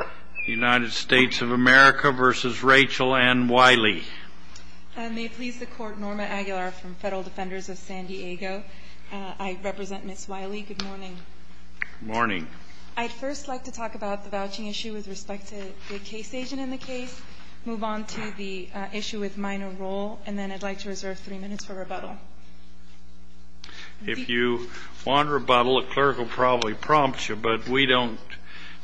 I'd first like to talk about the vouching issue with respect to the case agent in the case, move on to the issue with minor role, and then I'd like to reserve three minutes for rebuttal. If you want rebuttal, the clerk will probably prompt you, but we don't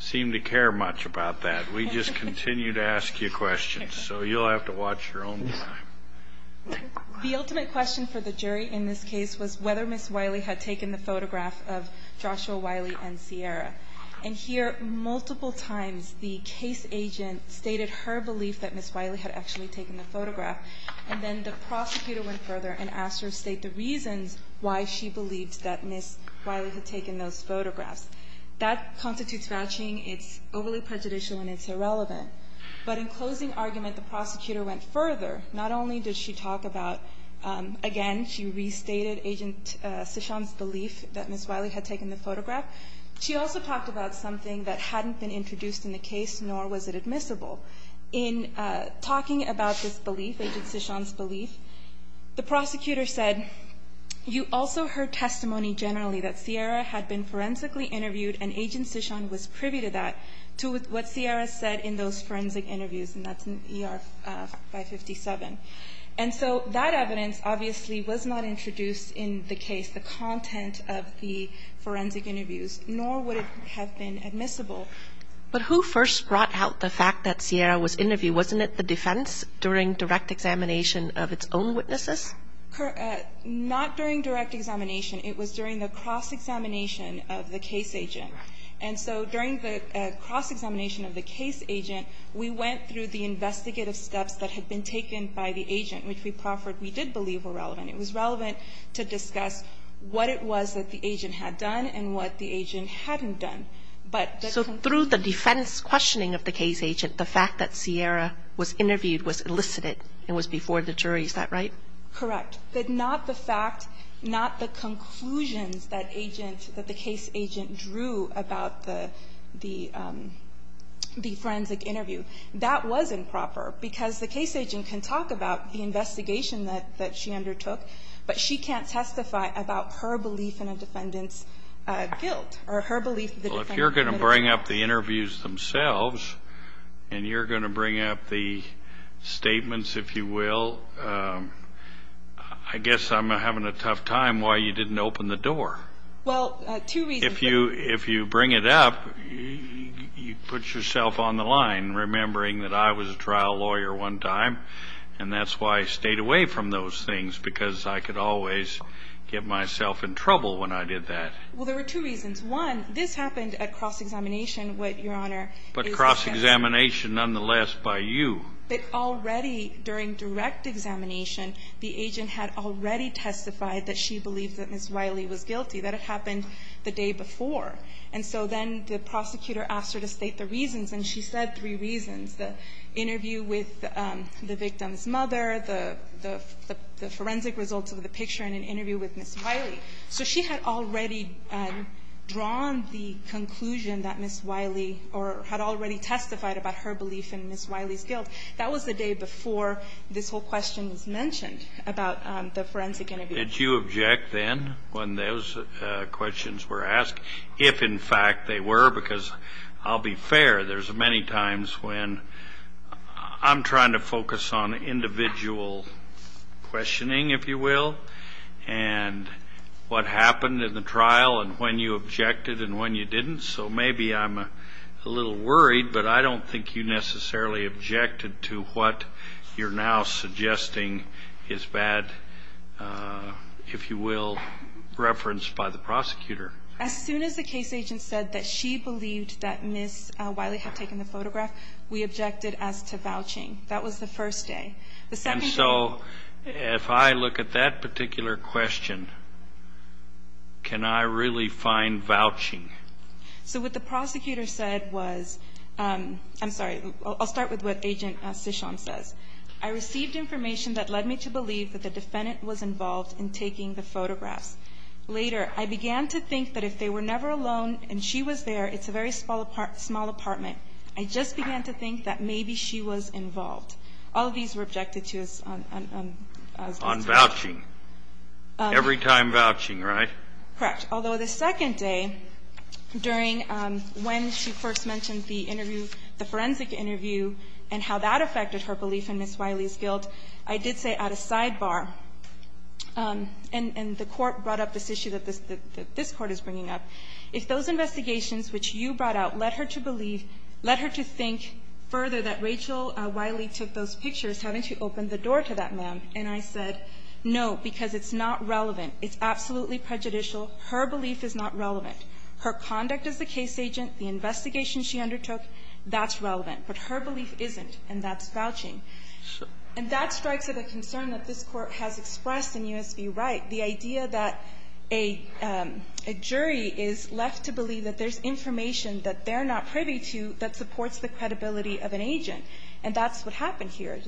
seem to care much about that. We just continue to ask you questions, so you'll have to watch your own time. The ultimate question for the jury in this case was whether Ms. Wyly had taken the photograph of Joshua Wyly and Sierra. And here, multiple times, the case agent stated her belief that Ms. Wyly had actually taken the photograph, and then the prosecutor went further and asked her to state the reasons why she believed that Ms. Wyly had taken those photographs. That constitutes vouching, it's overly prejudicial, and it's irrelevant. But in closing argument, the prosecutor went further. Not only did she talk about, again, she restated Agent Cishan's belief that Ms. Wyly had taken the photograph, she also talked about something that hadn't been introduced in the case, nor was it admissible. In talking about this belief, Agent Cishan's belief, the prosecutor said, you also heard testimony generally that Sierra had been forensically interviewed, and Agent Cishan was privy to that, to what Sierra said in those forensic interviews, and that's in ER 557. And so that evidence obviously was not introduced in the case, the content of the forensic interviews, nor would it have been admissible. But who first brought out the fact that Sierra was interviewed? Wasn't it the defense during direct examination of its own witnesses? Not during direct examination. It was during the cross-examination of the case agent. And so during the cross-examination of the case agent, we went through the investigative steps that had been taken by the agent, which we proffered we did believe were relevant. It was relevant to discuss what it was that the agent had done and what the agent hadn't done. But the conclusion... So through the defense questioning of the case agent, the fact that Sierra was interviewed was elicited and was before the jury. Is that right? Correct. But not the fact, not the conclusions that agent, that the case agent drew about the forensic interview. That was improper, because the case agent can talk about the investigation that she undertook, but she can't testify about her belief in a defendant's guilt or her belief that the defendant committed a crime. Well, if you're going to bring up the interviews themselves and you're going to bring up the statements, if you will, I guess I'm having a tough time why you didn't open the door. Well, two reasons. If you bring it up, you put yourself on the line, remembering that I was a trial lawyer one time, and that's why I stayed away from those things, because I could always get myself in trouble when I did that. Well, there were two reasons. One, this happened at cross-examination, what Your Honor is suggesting. But cross-examination nonetheless by you. But already during direct examination, the agent had already testified that she believed that Ms. Riley was guilty. That had happened the day before. And so then the prosecutor asked her to state the reasons, and she said three reasons. The interview with the victim's mother, the forensic results of the picture, and an interview with Ms. Riley. So she had already drawn the conclusion that Ms. Riley or had already testified about her belief in Ms. Riley's guilt. That was the day before this whole question was mentioned about the forensic interview. Did you object then when those questions were asked, if in fact they were? Because I'll be fair, there's many times when I'm trying to focus on individual questioning, if you will, and what happened in the trial and when you objected and when you didn't. So maybe I'm a little worried, but I don't think you necessarily objected to what you're now suggesting is bad, if you will, referenced by the prosecutor. As soon as the case agent said that she believed that Ms. Riley had taken the photograph, we objected as to vouching. That was the first day. And so if I look at that particular question, can I really find vouching? So what the prosecutor said was, I'm sorry, I'll start with what Agent Cishon says. I received information that led me to believe that the defendant was involved in taking the photographs. Later, I began to think that if they were never alone and she was there, it's a very small apartment. I just began to think that maybe she was involved. All of these were objected to on this case. On vouching. Every time vouching, right? Correct. Although the second day, during when she first mentioned the interview, the forensic interview, and how that affected her belief in Ms. Riley's guilt, I did say at a sidebar, and the Court brought up this issue that this Court is bringing up, if those investigations which you brought out led her to believe, led her to think further that Rachel Riley took those pictures having to open the door to that man, and I said, no, because it's not relevant. It's absolutely prejudicial. Her belief is not relevant. Her conduct as the case agent, the investigation she undertook, that's relevant. But her belief isn't, and that's vouching. Sure. And that strikes at a concern that this Court has expressed in U.S. v. Wright, the idea that a jury is left to believe that there's information that they're not privy to that supports the credibility of an agent. And that's what happened here.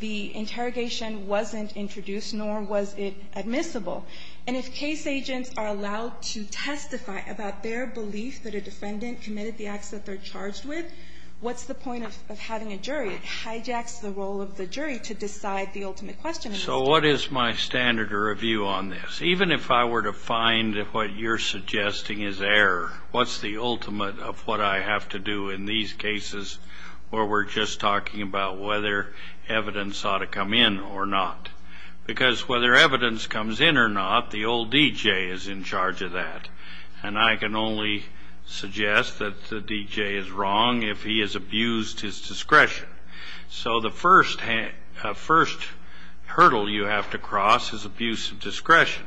The interrogation wasn't introduced, nor was it admissible. And if case agents are allowed to testify about their belief that a defendant committed the acts that they're charged with, what's the point of having a jury? It hijacks the role of the jury to decide the ultimate question. So what is my standard review on this? Even if I were to find what you're suggesting is error, what's the ultimate of what I have to do in these cases where we're just talking about whether evidence ought to come in or not? Because whether evidence comes in or not, the old DJ is in charge of that. And I can only suggest that the DJ is wrong if he has abused his discretion. So the first hurdle you have to cross is abuse of discretion.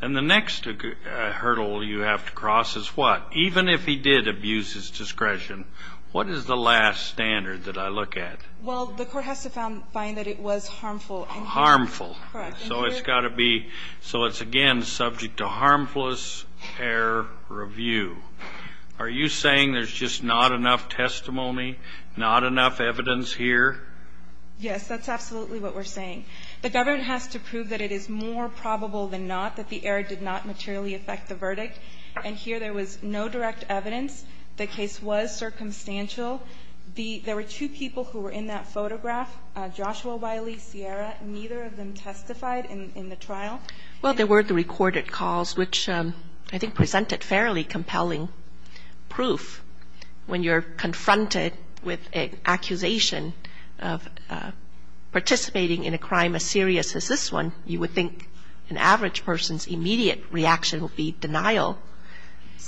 And the next hurdle you have to cross is what? Even if he did abuse his discretion, what is the last standard that I look at? Well, the Court has to find that it was harmful. Harmful. Correct. So it's got to be so it's, again, subject to harmless error review. Are you saying there's just not enough testimony, not enough evidence here? Yes. That's absolutely what we're saying. The government has to prove that it is more probable than not that the error did not materially affect the verdict. And here there was no direct evidence. The case was circumstantial. There were two people who were in that photograph, Joshua Wiley, Sierra. Neither of them testified in the trial. Well, there were the recorded calls, which I think presented fairly compelling proof. When you're confronted with an accusation of participating in a crime as serious as this one, you would think an average person's immediate reaction would be denial.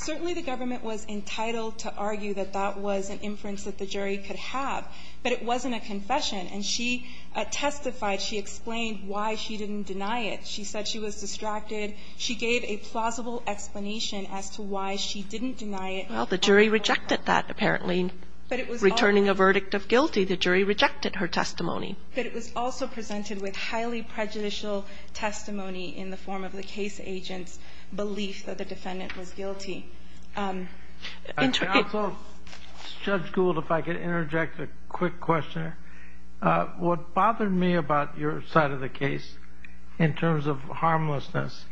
Certainly the government was entitled to argue that that was an inference that the jury could have. But it wasn't a confession. And she testified. She explained why she didn't deny it. She said she was distracted. She gave a plausible explanation as to why she didn't deny it. Well, the jury rejected that, apparently. But it was also. Returning a verdict of guilty, the jury rejected her testimony. But it was also presented with highly prejudicial testimony in the form of the case agent's belief that the defendant was guilty. Also, Judge Gould, if I could interject a quick question. What bothered me about your side of the case in terms of harmlessness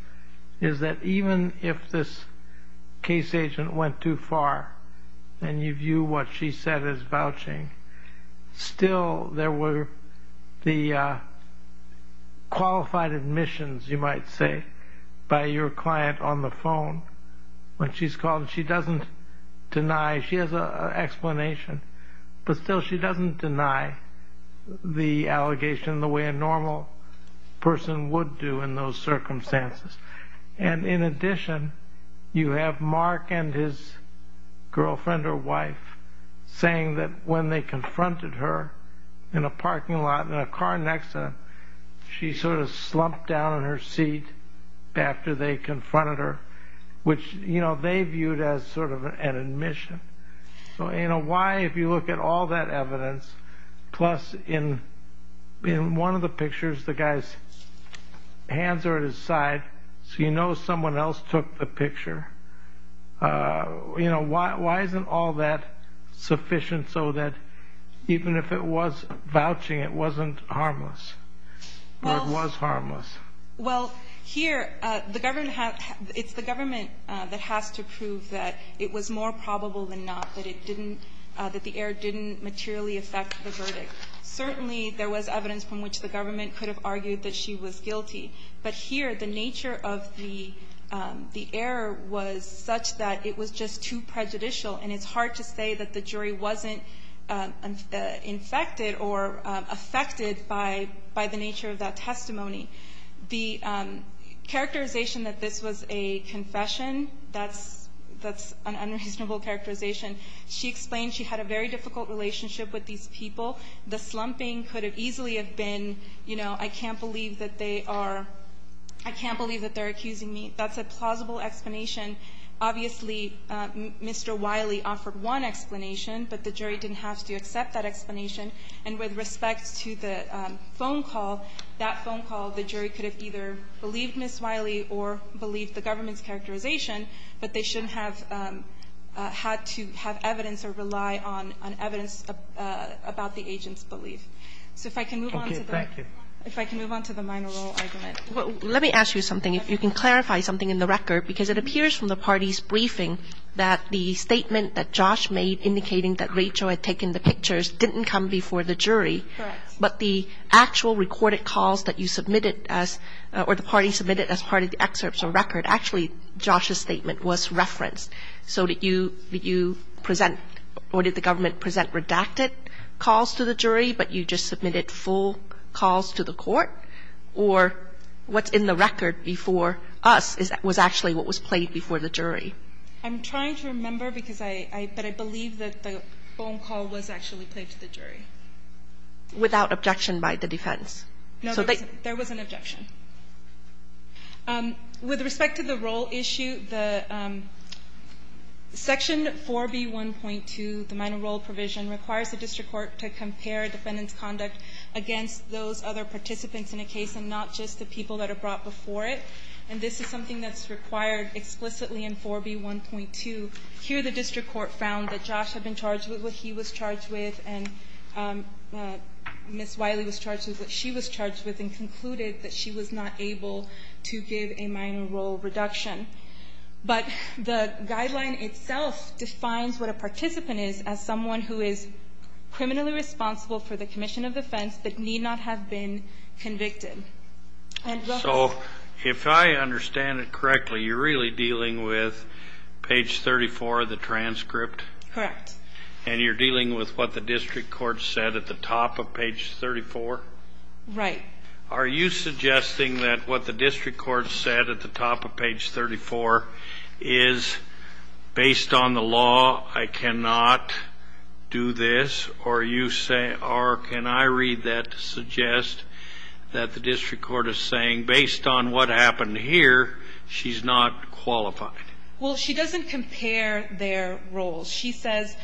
is that even if this case agent went too far and you view what she said as vouching, still there were the qualified admissions, you might say, by your client on the phone when she's calling. She doesn't deny. She has an explanation. But still, she doesn't deny the allegation the way a normal person would do in those circumstances. And in addition, you have Mark and his girlfriend or wife saying that when they confronted her in a parking lot in a car accident, she sort of slumped down in her seat after they confronted her, which they viewed as sort of an admission. So why, if you look at all that evidence, plus in one of the pictures, the guy's hands are at his side, so you know someone else took the picture. Why isn't all that sufficient so that even if it was vouching, it wasn't harmless or it was harmless? Well, here, it's the government that has to prove that it was more probable than not that it didn't, that the error didn't materially affect the verdict. Certainly, there was evidence from which the government could have argued that she was guilty. But here, the nature of the error was such that it was just too prejudicial, and it's hard to say that the jury wasn't infected or affected by the nature of that error. The characterization that this was a confession, that's an unreasonable characterization. She explained she had a very difficult relationship with these people. The slumping could have easily have been, you know, I can't believe that they are accusing me. That's a plausible explanation. Obviously, Mr. Wiley offered one explanation, but the jury didn't have to accept that explanation. And with respect to the phone call, that phone call, the jury could have either believed Ms. Wiley or believed the government's characterization, but they shouldn't have had to have evidence or rely on evidence about the agent's belief. So if I can move on to the minor role argument. Let me ask you something, if you can clarify something in the record, because it appears from the party's briefing that the statement that Josh made indicating that Rachel had taken the pictures didn't come before the jury. Correct. But the actual recorded calls that you submitted or the party submitted as part of the excerpts or record, actually Josh's statement was referenced. So did you present or did the government present redacted calls to the jury, but you just submitted full calls to the court? Or what's in the record before us was actually what was played before the jury? I'm trying to remember, because I, but I believe that the phone call was actually played to the jury. Without objection by the defense. No, there was an objection. With respect to the role issue, the Section 4B1.2, the minor role provision, requires the district court to compare defendant's conduct against those other participants in a case and not just the people that are brought before it. And this is something that's required explicitly in 4B1.2. Here the district court found that Josh had been charged with what he was charged with and Ms. Wiley was charged with what she was charged with and concluded that she was not able to give a minor role reduction. But the guideline itself defines what a participant is as someone who is criminally responsible for the commission of offense but need not have been convicted. So if I understand it correctly, you're really dealing with page 34 of the transcript? Correct. And you're dealing with what the district court said at the top of page 34? Right. Are you suggesting that what the district court said at the top of page 34 is, based on the law, I cannot do this? Or can I read that to suggest that the district court is saying, based on what happened here, she's not qualified? Well, she doesn't compare their roles. She says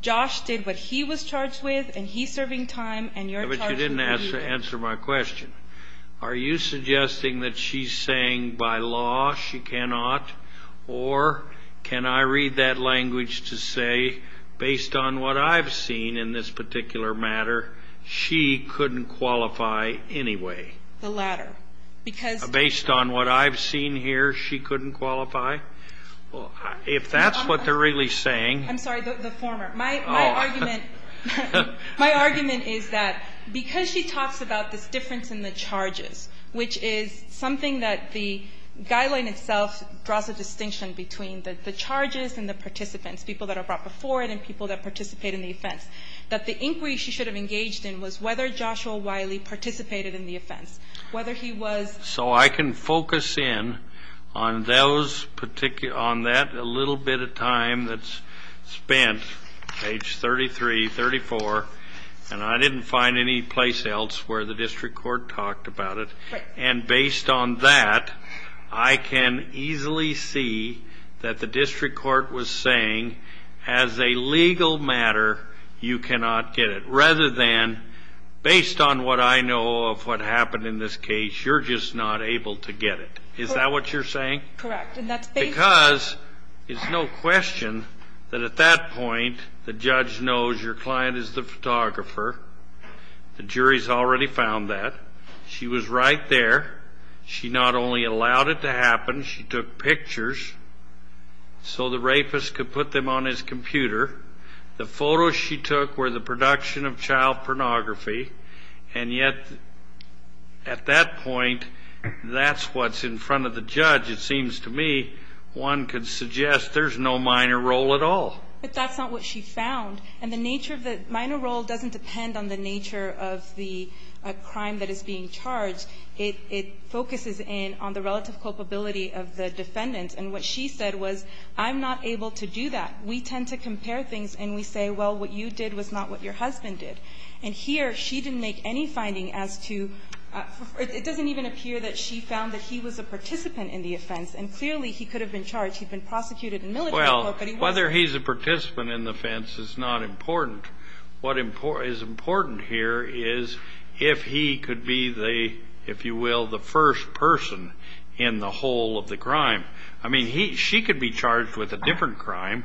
Josh did what he was charged with and he's serving time and you're charged with what he did. But you didn't answer my question. Are you suggesting that she's saying, by law, she cannot? Or can I read that language to say, based on what I've seen in this particular matter, she couldn't qualify anyway? The latter. Based on what I've seen here, she couldn't qualify? If that's what they're really saying. I'm sorry, the former. My argument is that because she talks about this difference in the charges, which is something that the guideline itself draws a distinction between the charges and the participants, people that are brought before it and people that participate in the offense, that the inquiry she should have engaged in was whether Joshua Wiley participated in the offense, whether he was. So I can focus in on that little bit of time that's spent, page 33, 34, and I didn't find any place else where the district court talked about it. And based on that, I can easily see that the district court was saying, as a legal matter, you cannot get it. Rather than, based on what I know of what happened in this case, you're just not able to get it. Is that what you're saying? Correct. Because it's no question that at that point the judge knows your client is the photographer. The jury's already found that. She was right there. She not only allowed it to happen, she took pictures so the rapist could put them on his computer. The photos she took were the production of child pornography. And yet, at that point, that's what's in front of the judge. It seems to me one could suggest there's no minor role at all. But that's not what she found. And the nature of the minor role doesn't depend on the nature of the crime that is being charged. It focuses in on the relative culpability of the defendant. And what she said was, I'm not able to do that. We tend to compare things and we say, well, what you did was not what your husband did. And here she didn't make any finding as to ñ it doesn't even appear that she found that he was a participant in the offense. And clearly he could have been charged. He'd been prosecuted in military law, but he wasn't. Well, whether he's a participant in the offense is not important. What is important here is if he could be the, if you will, the first person in the whole of the crime. I mean, she could be charged with a different crime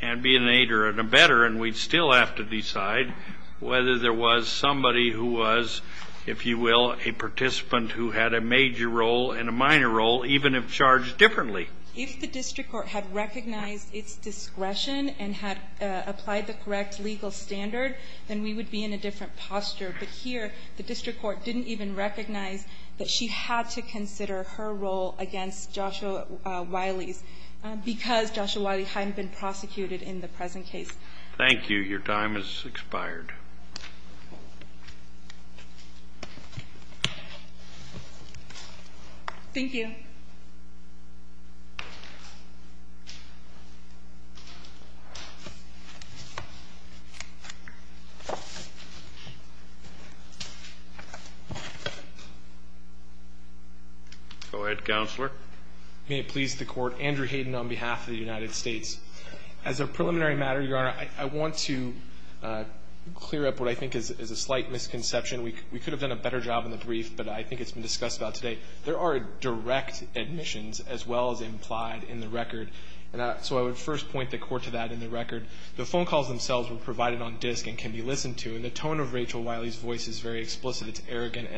and be an aider and a better, and we'd still have to decide whether there was somebody who was, if you will, a participant who had a major role and a minor role, even if charged differently. If the district court had recognized its discretion and had applied the correct legal standard, then we would be in a different posture. But here the district court didn't even recognize that she had to consider her role against Joshua Wiley's because Joshua Wiley hadn't been prosecuted in the present case. Thank you. Your time has expired. Thank you. Go ahead, Counselor. May it please the Court. Andrew Hayden on behalf of the United States. As a preliminary matter, Your Honor, I want to clear up what I think is a slight misconception. We could have done a better job in the brief, but I think it's been discussed about today. There are direct admissions as well as implied in the record. So I would first point the Court to that in the record. The phone calls themselves were provided on disk and can be listened to, and the tone of Rachel Wiley's voice is very explicit. It's arrogant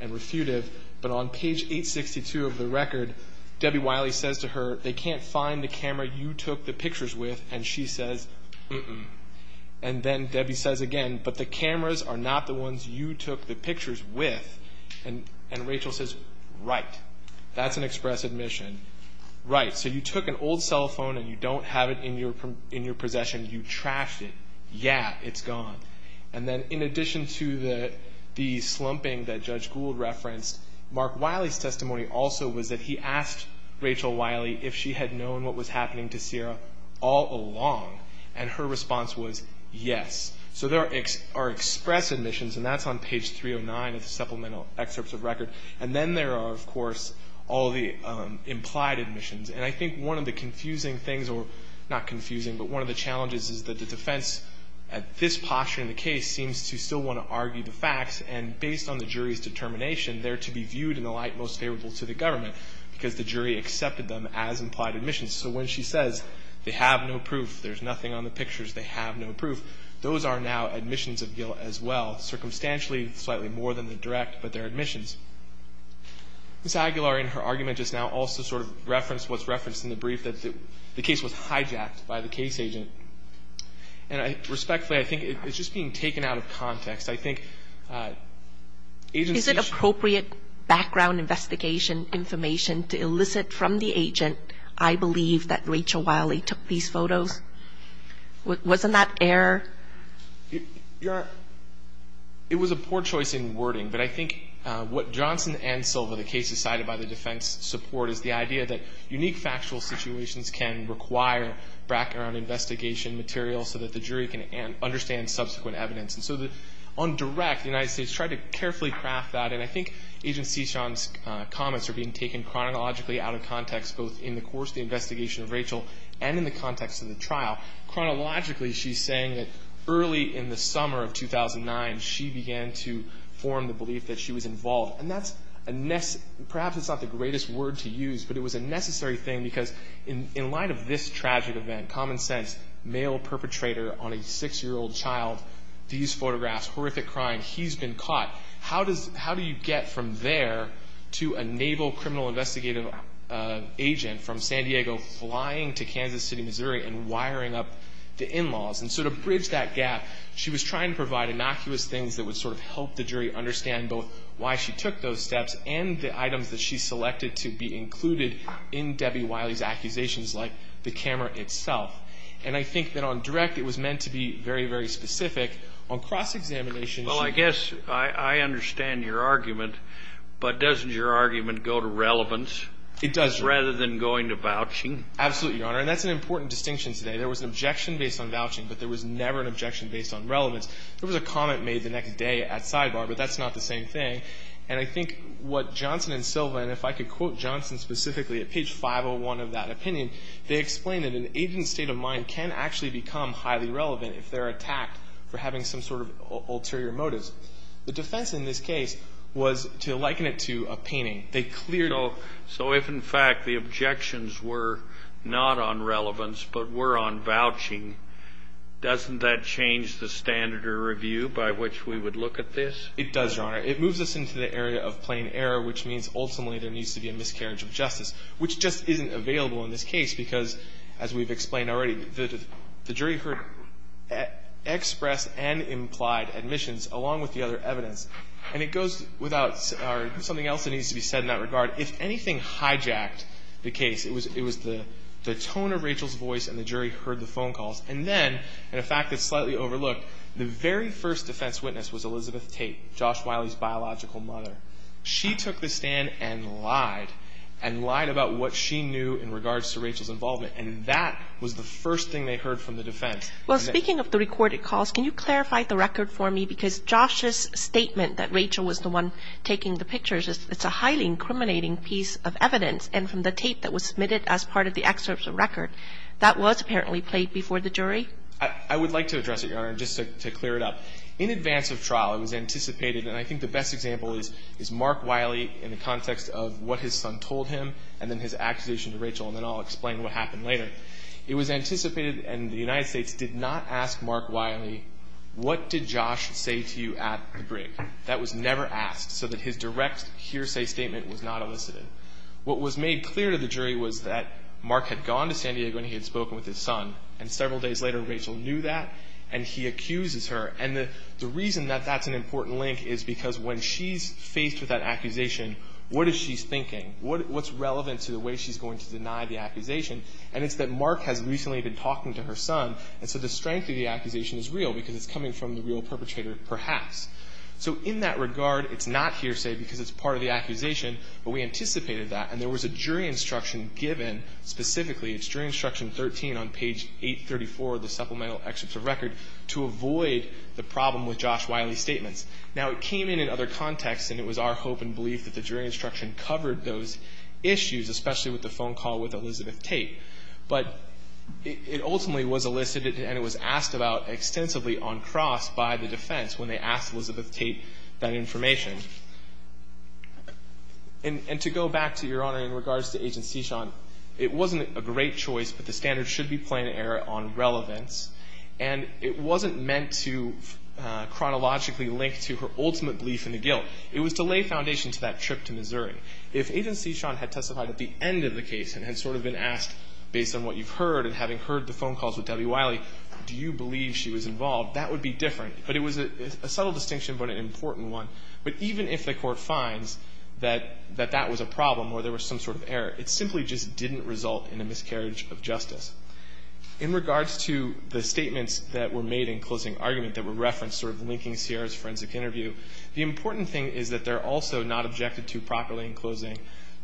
and refutive. But on page 862 of the record, Debbie Wiley says to her, they can't find the camera you took the pictures with, and she says, uh-uh. And then Debbie says again, but the cameras are not the ones you took the pictures with. And Rachel says, right. That's an express admission. Right, so you took an old cell phone and you don't have it in your possession. You trashed it. Yeah, it's gone. And then in addition to the slumping that Judge Gould referenced, Mark Wiley's testimony also was that he asked Rachel Wiley if she had known what was happening to Sierra all along, and her response was yes. So there are express admissions, and that's on page 309 of the supplemental excerpts of record. And then there are, of course, all the implied admissions. And I think one of the confusing things, or not confusing, but one of the challenges is that the defense at this posture in the case seems to still want to argue the facts. And based on the jury's determination, they're to be viewed in the light most favorable to the government because the jury accepted them as implied admissions. So when she says, they have no proof, there's nothing on the pictures, they have no proof, those are now admissions of Gill as well. Circumstantially, slightly more than the direct, but they're admissions. Ms. Aguilar in her argument just now also sort of referenced what's referenced in the brief, that the case was hijacked by the case agent. And respectfully, I think it's just being taken out of context. I think agencies ---- Is it appropriate background investigation information to elicit from the agent, I believe, that Rachel Wiley took these photos? Wasn't that error? It was a poor choice in wording, but I think what Johnson and Silva, the cases cited by the defense support, is the idea that unique factual situations can require background investigation material so that the jury can understand subsequent evidence. And so on direct, the United States tried to carefully craft that, and I think Agent Cishan's comments are being taken chronologically out of context, both in the course of the investigation of Rachel and in the context of the trial. Chronologically, she's saying that early in the summer of 2009, she began to form the belief that she was involved. And that's a ---- perhaps it's not the greatest word to use, but it was a necessary thing because in light of this tragic event, common sense, male perpetrator on a six-year-old child, these photographs, horrific crime, he's been caught. How do you get from there to enable criminal investigative agent from San Diego flying to Kansas City, Missouri, and wiring up the in-laws? And so to bridge that gap, she was trying to provide innocuous things that would sort of help the jury understand both why she took those steps and the items that she selected to be included in Debbie Wiley's accusations, like the camera itself. And I think that on direct, it was meant to be very, very specific. On cross-examination, she ---- Well, I guess I understand your argument. But doesn't your argument go to relevance rather than going to vouching? Absolutely, Your Honor. And that's an important distinction today. There was an objection based on vouching, but there was never an objection based on relevance. There was a comment made the next day at sidebar, but that's not the same thing. And I think what Johnson and Silva, and if I could quote Johnson specifically at page 501 of that opinion, they explain that an agent's state of mind can actually become highly relevant if they're attacked for having some sort of ulterior motives. The defense in this case was to liken it to a painting. They clearly ---- So if, in fact, the objections were not on relevance but were on vouching, doesn't that change the standard of review by which we would look at this? It does, Your Honor. It moves us into the area of plain error, which means ultimately there needs to be a miscarriage of justice, which just isn't available in this case because, as we've explained already, the jury heard expressed and implied admissions along with the other evidence. And it goes without something else that needs to be said in that regard. If anything hijacked the case, it was the tone of Rachel's voice and the jury heard the phone calls. And then, in a fact that's slightly overlooked, the very first defense witness was Elizabeth Tate, Josh Wiley's biological mother. She took the stand and lied, and lied about what she knew in regards to Rachel's involvement, and that was the first thing they heard from the defense. Well, speaking of the recorded calls, can you clarify the record for me? Because Josh's statement that Rachel was the one taking the pictures, it's a highly incriminating piece of evidence. And from the tape that was submitted as part of the excerpt of the record, that was apparently played before the jury? I would like to address it, Your Honor, just to clear it up. In advance of trial, it was anticipated, and I think the best example is Mark Wiley in the context of what his son told him and then his accusation to Rachel, and then I'll explain what happened later. It was anticipated, and the United States did not ask Mark Wiley, what did Josh say to you at the brig? That was never asked, so that his direct hearsay statement was not elicited. What was made clear to the jury was that Mark had gone to San Diego and he had spoken with his son, and several days later, Rachel knew that, and he accuses her. And the reason that that's an important link is because when she's faced with that accusation, what is she thinking? What's relevant to the way she's going to deny the accusation? And it's that Mark has recently been talking to her son, and so the strength of the accusation is real because it's coming from the real perpetrator, perhaps. So in that regard, it's not hearsay because it's part of the accusation, but we anticipated that, and there was a jury instruction given specifically. It's jury instruction 13 on page 834 of the supplemental excerpt of record to avoid the problem with Josh Wiley's statements. Now, it came in in other contexts, and it was our hope and belief that the jury instruction covered those issues, especially with the phone call with Elizabeth Tate. But it ultimately was elicited, and it was asked about extensively on cross by the defense when they asked Elizabeth Tate that information. And to go back to Your Honor, in regards to Agent Sechon, it wasn't a great choice, but the standards should be plain error on relevance, and it wasn't meant to chronologically link to her ultimate belief in the guilt. It was to lay foundation to that trip to Missouri. If Agent Sechon had testified at the end of the case and had sort of been asked based on what you've heard and having heard the phone calls with Debbie Wiley, do you believe she was involved, that would be different. But it was a subtle distinction but an important one. But even if the Court finds that that was a problem or there was some sort of error, it simply just didn't result in a miscarriage of justice. In regards to the statements that were made in closing argument that were referenced sort of linking Sierra's forensic interview, the important thing is that they're also not objected to properly in closing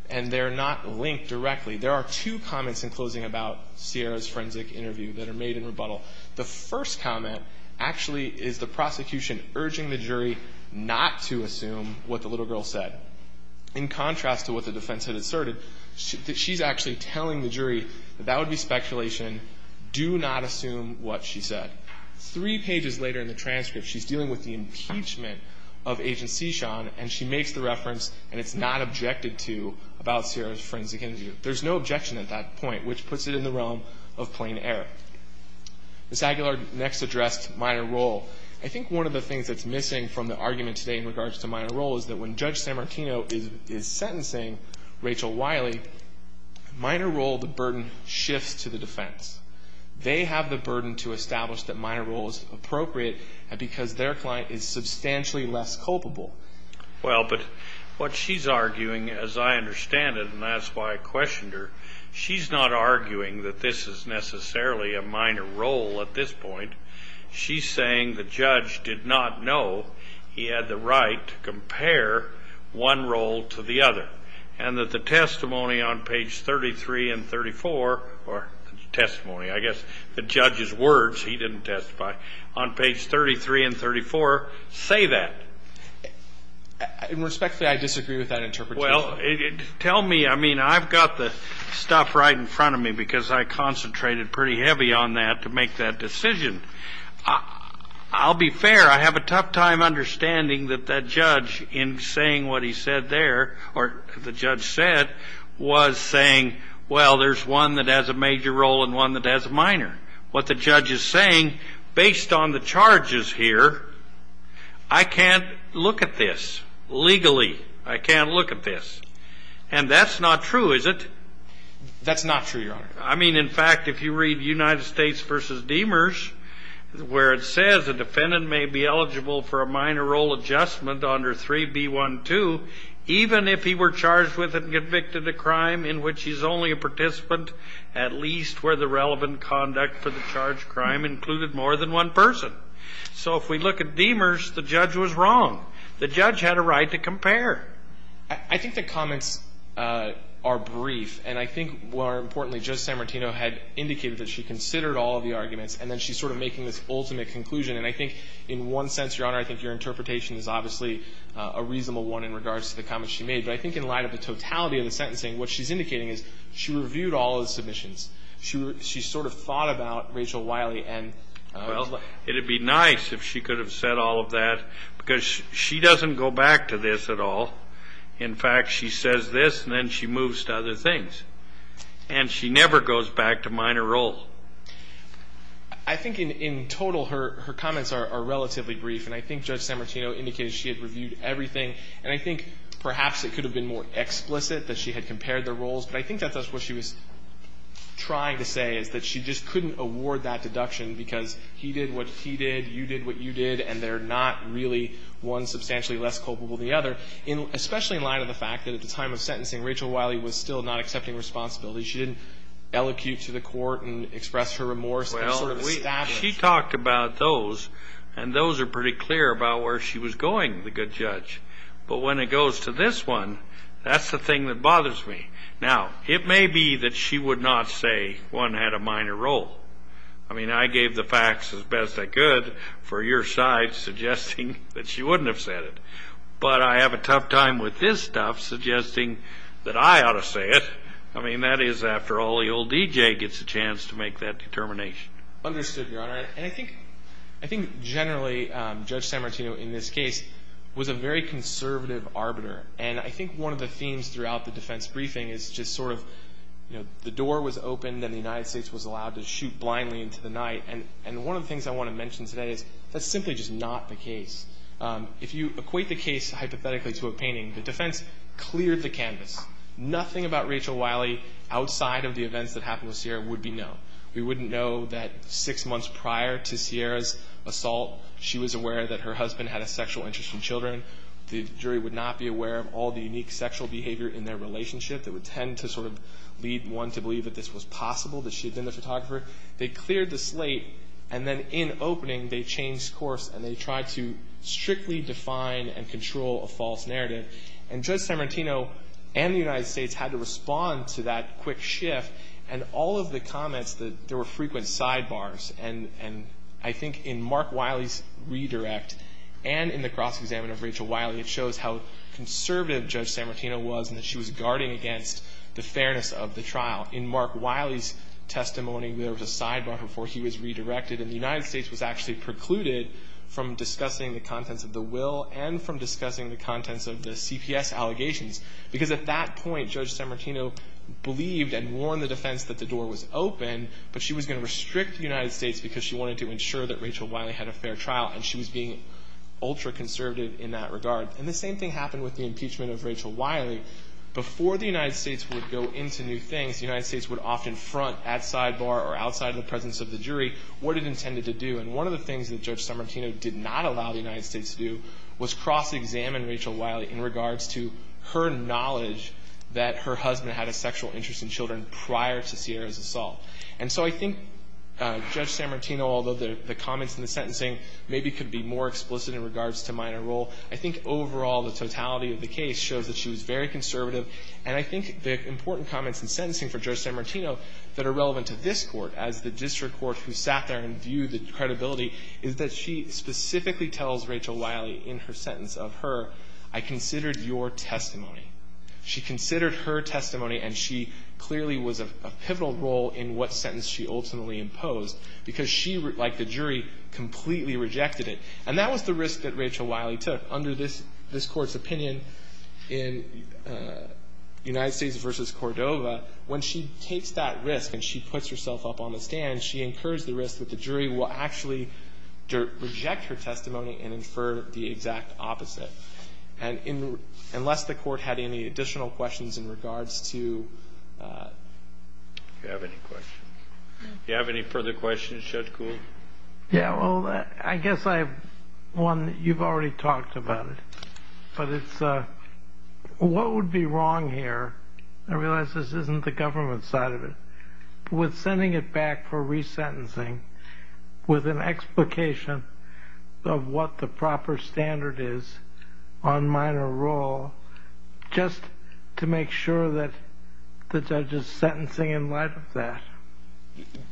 and they're not linked directly. There are two comments in closing about Sierra's forensic interview that are made in rebuttal. The first comment actually is the prosecution urging the jury not to assume what the little girl said. In contrast to what the defense had asserted, she's actually telling the jury that that would be speculation. Do not assume what she said. Three pages later in the transcript, she's dealing with the impeachment of Agent Sechon and she makes the reference and it's not objected to about Sierra's forensic interview. There's no objection at that point, which puts it in the realm of plain error. Ms. Aguilar next addressed minor role. I think one of the things that's missing from the argument today in regards to minor role is that when Judge Sammartino is sentencing Rachel Wiley, minor role, the burden shifts to the defense. They have the burden to establish that minor role is appropriate because their client is substantially less culpable. Well, but what she's arguing, as I understand it, and that's why I questioned her, she's not arguing that this is necessarily a minor role at this point. She's saying the judge did not know he had the right to compare one role to the other and that the testimony on page 33 and 34, or testimony, I guess the judge's words, he didn't testify, on page 33 and 34 say that. In respect to that, I disagree with that interpretation. Well, tell me, I mean, I've got the stuff right in front of me because I concentrated pretty heavy on that to make that decision. I'll be fair, I have a tough time understanding that that judge, in saying what he said there, or the judge said, was saying, well, there's one that has a major role and one that has a minor. What the judge is saying, based on the charges here, I can't look at this legally. I can't look at this. And that's not true, is it? That's not true, Your Honor. I mean, in fact, if you read United States v. Demers, where it says a defendant may be eligible for a minor role adjustment under 3B12, even if he were charged with and convicted of a crime in which he's only a participant, at least where the relevant conduct for the charged crime included more than one person. So if we look at Demers, the judge was wrong. The judge had a right to compare. I think the comments are brief, and I think, more importantly, Judge Sammartino had indicated that she considered all of the arguments, and then she's sort of making this ultimate conclusion. And I think, in one sense, Your Honor, I think your interpretation is obviously a reasonable one in regards to the comments she made. But I think in light of the totality of the sentencing, what she's indicating is she reviewed all of the submissions. She sort of thought about Rachel Wiley. Well, it would be nice if she could have said all of that, because she doesn't go back to this at all. In fact, she says this, and then she moves to other things. And she never goes back to minor role. I think, in total, her comments are relatively brief. And I think Judge Sammartino indicated she had reviewed everything. And I think perhaps it could have been more explicit that she had compared the roles. But I think that's what she was trying to say is that she just couldn't award that deduction because he did what he did, you did what you did, and they're not really one substantially less culpable than the other, especially in light of the fact that at the time of sentencing, Rachel Wiley was still not accepting responsibility. She didn't elocute to the court and express her remorse. She talked about those, and those are pretty clear about where she was going, the good judge. But when it goes to this one, that's the thing that bothers me. Now, it may be that she would not say one had a minor role. I mean, I gave the facts as best I could for your side, suggesting that she wouldn't have said it. But I have a tough time with this stuff, suggesting that I ought to say it. I mean, that is after all the old D.J. gets a chance to make that determination. Understood, Your Honor. And I think generally Judge Sammartino in this case was a very conservative arbiter. And I think one of the themes throughout the defense briefing is just sort of, you know, the door was opened and the United States was allowed to shoot blindly into the night. And one of the things I want to mention today is that's simply just not the case. If you equate the case hypothetically to a painting, the defense cleared the canvas. Nothing about Rachel Wiley outside of the events that happened with Sierra would be known. We wouldn't know that six months prior to Sierra's assault, she was aware that her husband had a sexual interest in children. The jury would not be aware of all the unique sexual behavior in their relationship that would tend to sort of lead one to believe that this was possible, that she had been the photographer. They cleared the slate. And then in opening, they changed course and they tried to strictly define and control a false narrative. And Judge Sammartino and the United States had to respond to that quick shift and all of the comments that there were frequent sidebars. And I think in Mark Wiley's redirect and in the cross-examination of Rachel Wiley, it shows how conservative Judge Sammartino was and that she was guarding against the fairness of the trial. In Mark Wiley's testimony, there was a sidebar before he was redirected, and the United States was actually precluded from discussing the contents of the will and from discussing the contents of the CPS allegations. Because at that point, Judge Sammartino believed and warned the defense that the door was open, but she was going to restrict the United States because she wanted to ensure that Rachel Wiley had a fair trial, and she was being ultra-conservative in that regard. And the same thing happened with the impeachment of Rachel Wiley. Before the United States would go into new things, the United States would often front at sidebar or outside of the presence of the jury what it intended to do. And one of the things that Judge Sammartino did not allow the United States to do was cross-examine Rachel Wiley in regards to her knowledge that her husband had a sexual interest in children prior to Sierra's assault. And so I think Judge Sammartino, although the comments in the sentencing maybe could be more explicit in regards to minor role, I think overall the totality of the case shows that she was very conservative. And I think the important comments in sentencing for Judge Sammartino that are relevant to this Court, as the district court who sat there and viewed the credibility, is that she specifically tells Rachel Wiley in her sentence of her, I considered your testimony. She considered her testimony, and she clearly was of a pivotal role in what sentence she ultimately imposed because she, like the jury, completely rejected it. And that was the risk that Rachel Wiley took under this Court's opinion in United States v. Cordova. When she takes that risk and she puts herself up on the stand, she incurs the risk that the jury will actually reject her testimony and infer the exact opposite. And unless the Court had any additional questions in regards to ‑‑ Do you have any questions? Do you have any further questions, Judge Kuhl? Yeah, well, I guess I have one that you've already talked about. But it's what would be wrong here? I realize this isn't the government side of it, but with sending it back for resentencing with an explication of what the proper standard is on minor role, just to make sure that the judge is sentencing in light of that.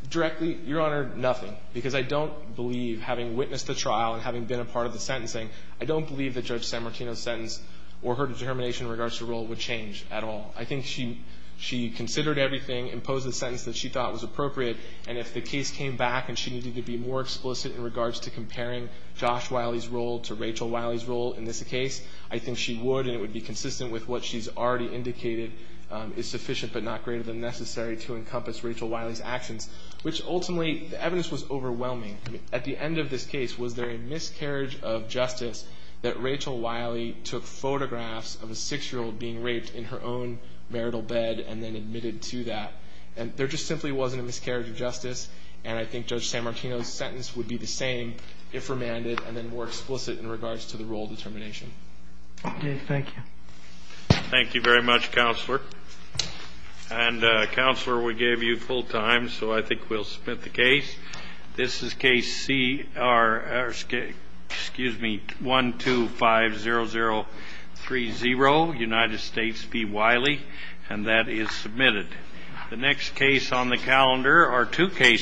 Directly, Your Honor, nothing. Because I don't believe, having witnessed the trial and having been a part of the sentencing, I don't believe that Judge Sanmartino's sentence or her determination in regards to role would change at all. I think she considered everything, imposed the sentence that she thought was appropriate, and if the case came back and she needed to be more explicit in regards to comparing Josh Wiley's role to Rachel Wiley's role in this case, I think she would, and it would be consistent with what she's already indicated is sufficient, but not greater than necessary to encompass Rachel Wiley's actions. Which, ultimately, the evidence was overwhelming. At the end of this case, was there a miscarriage of justice that Rachel Wiley took photographs of a 6-year-old being raped in her own marital bed and then admitted to that? There just simply wasn't a miscarriage of justice, and I think Judge Sanmartino's sentence would be the same if remanded and then more explicit in regards to the role determination. Thank you. Thank you very much, Counselor. And, Counselor, we gave you full time, so I think we'll submit the case. This is Case C, or, excuse me, 1250030, United States v. Wiley, and that is submitted. The next case on the calendar are two cases.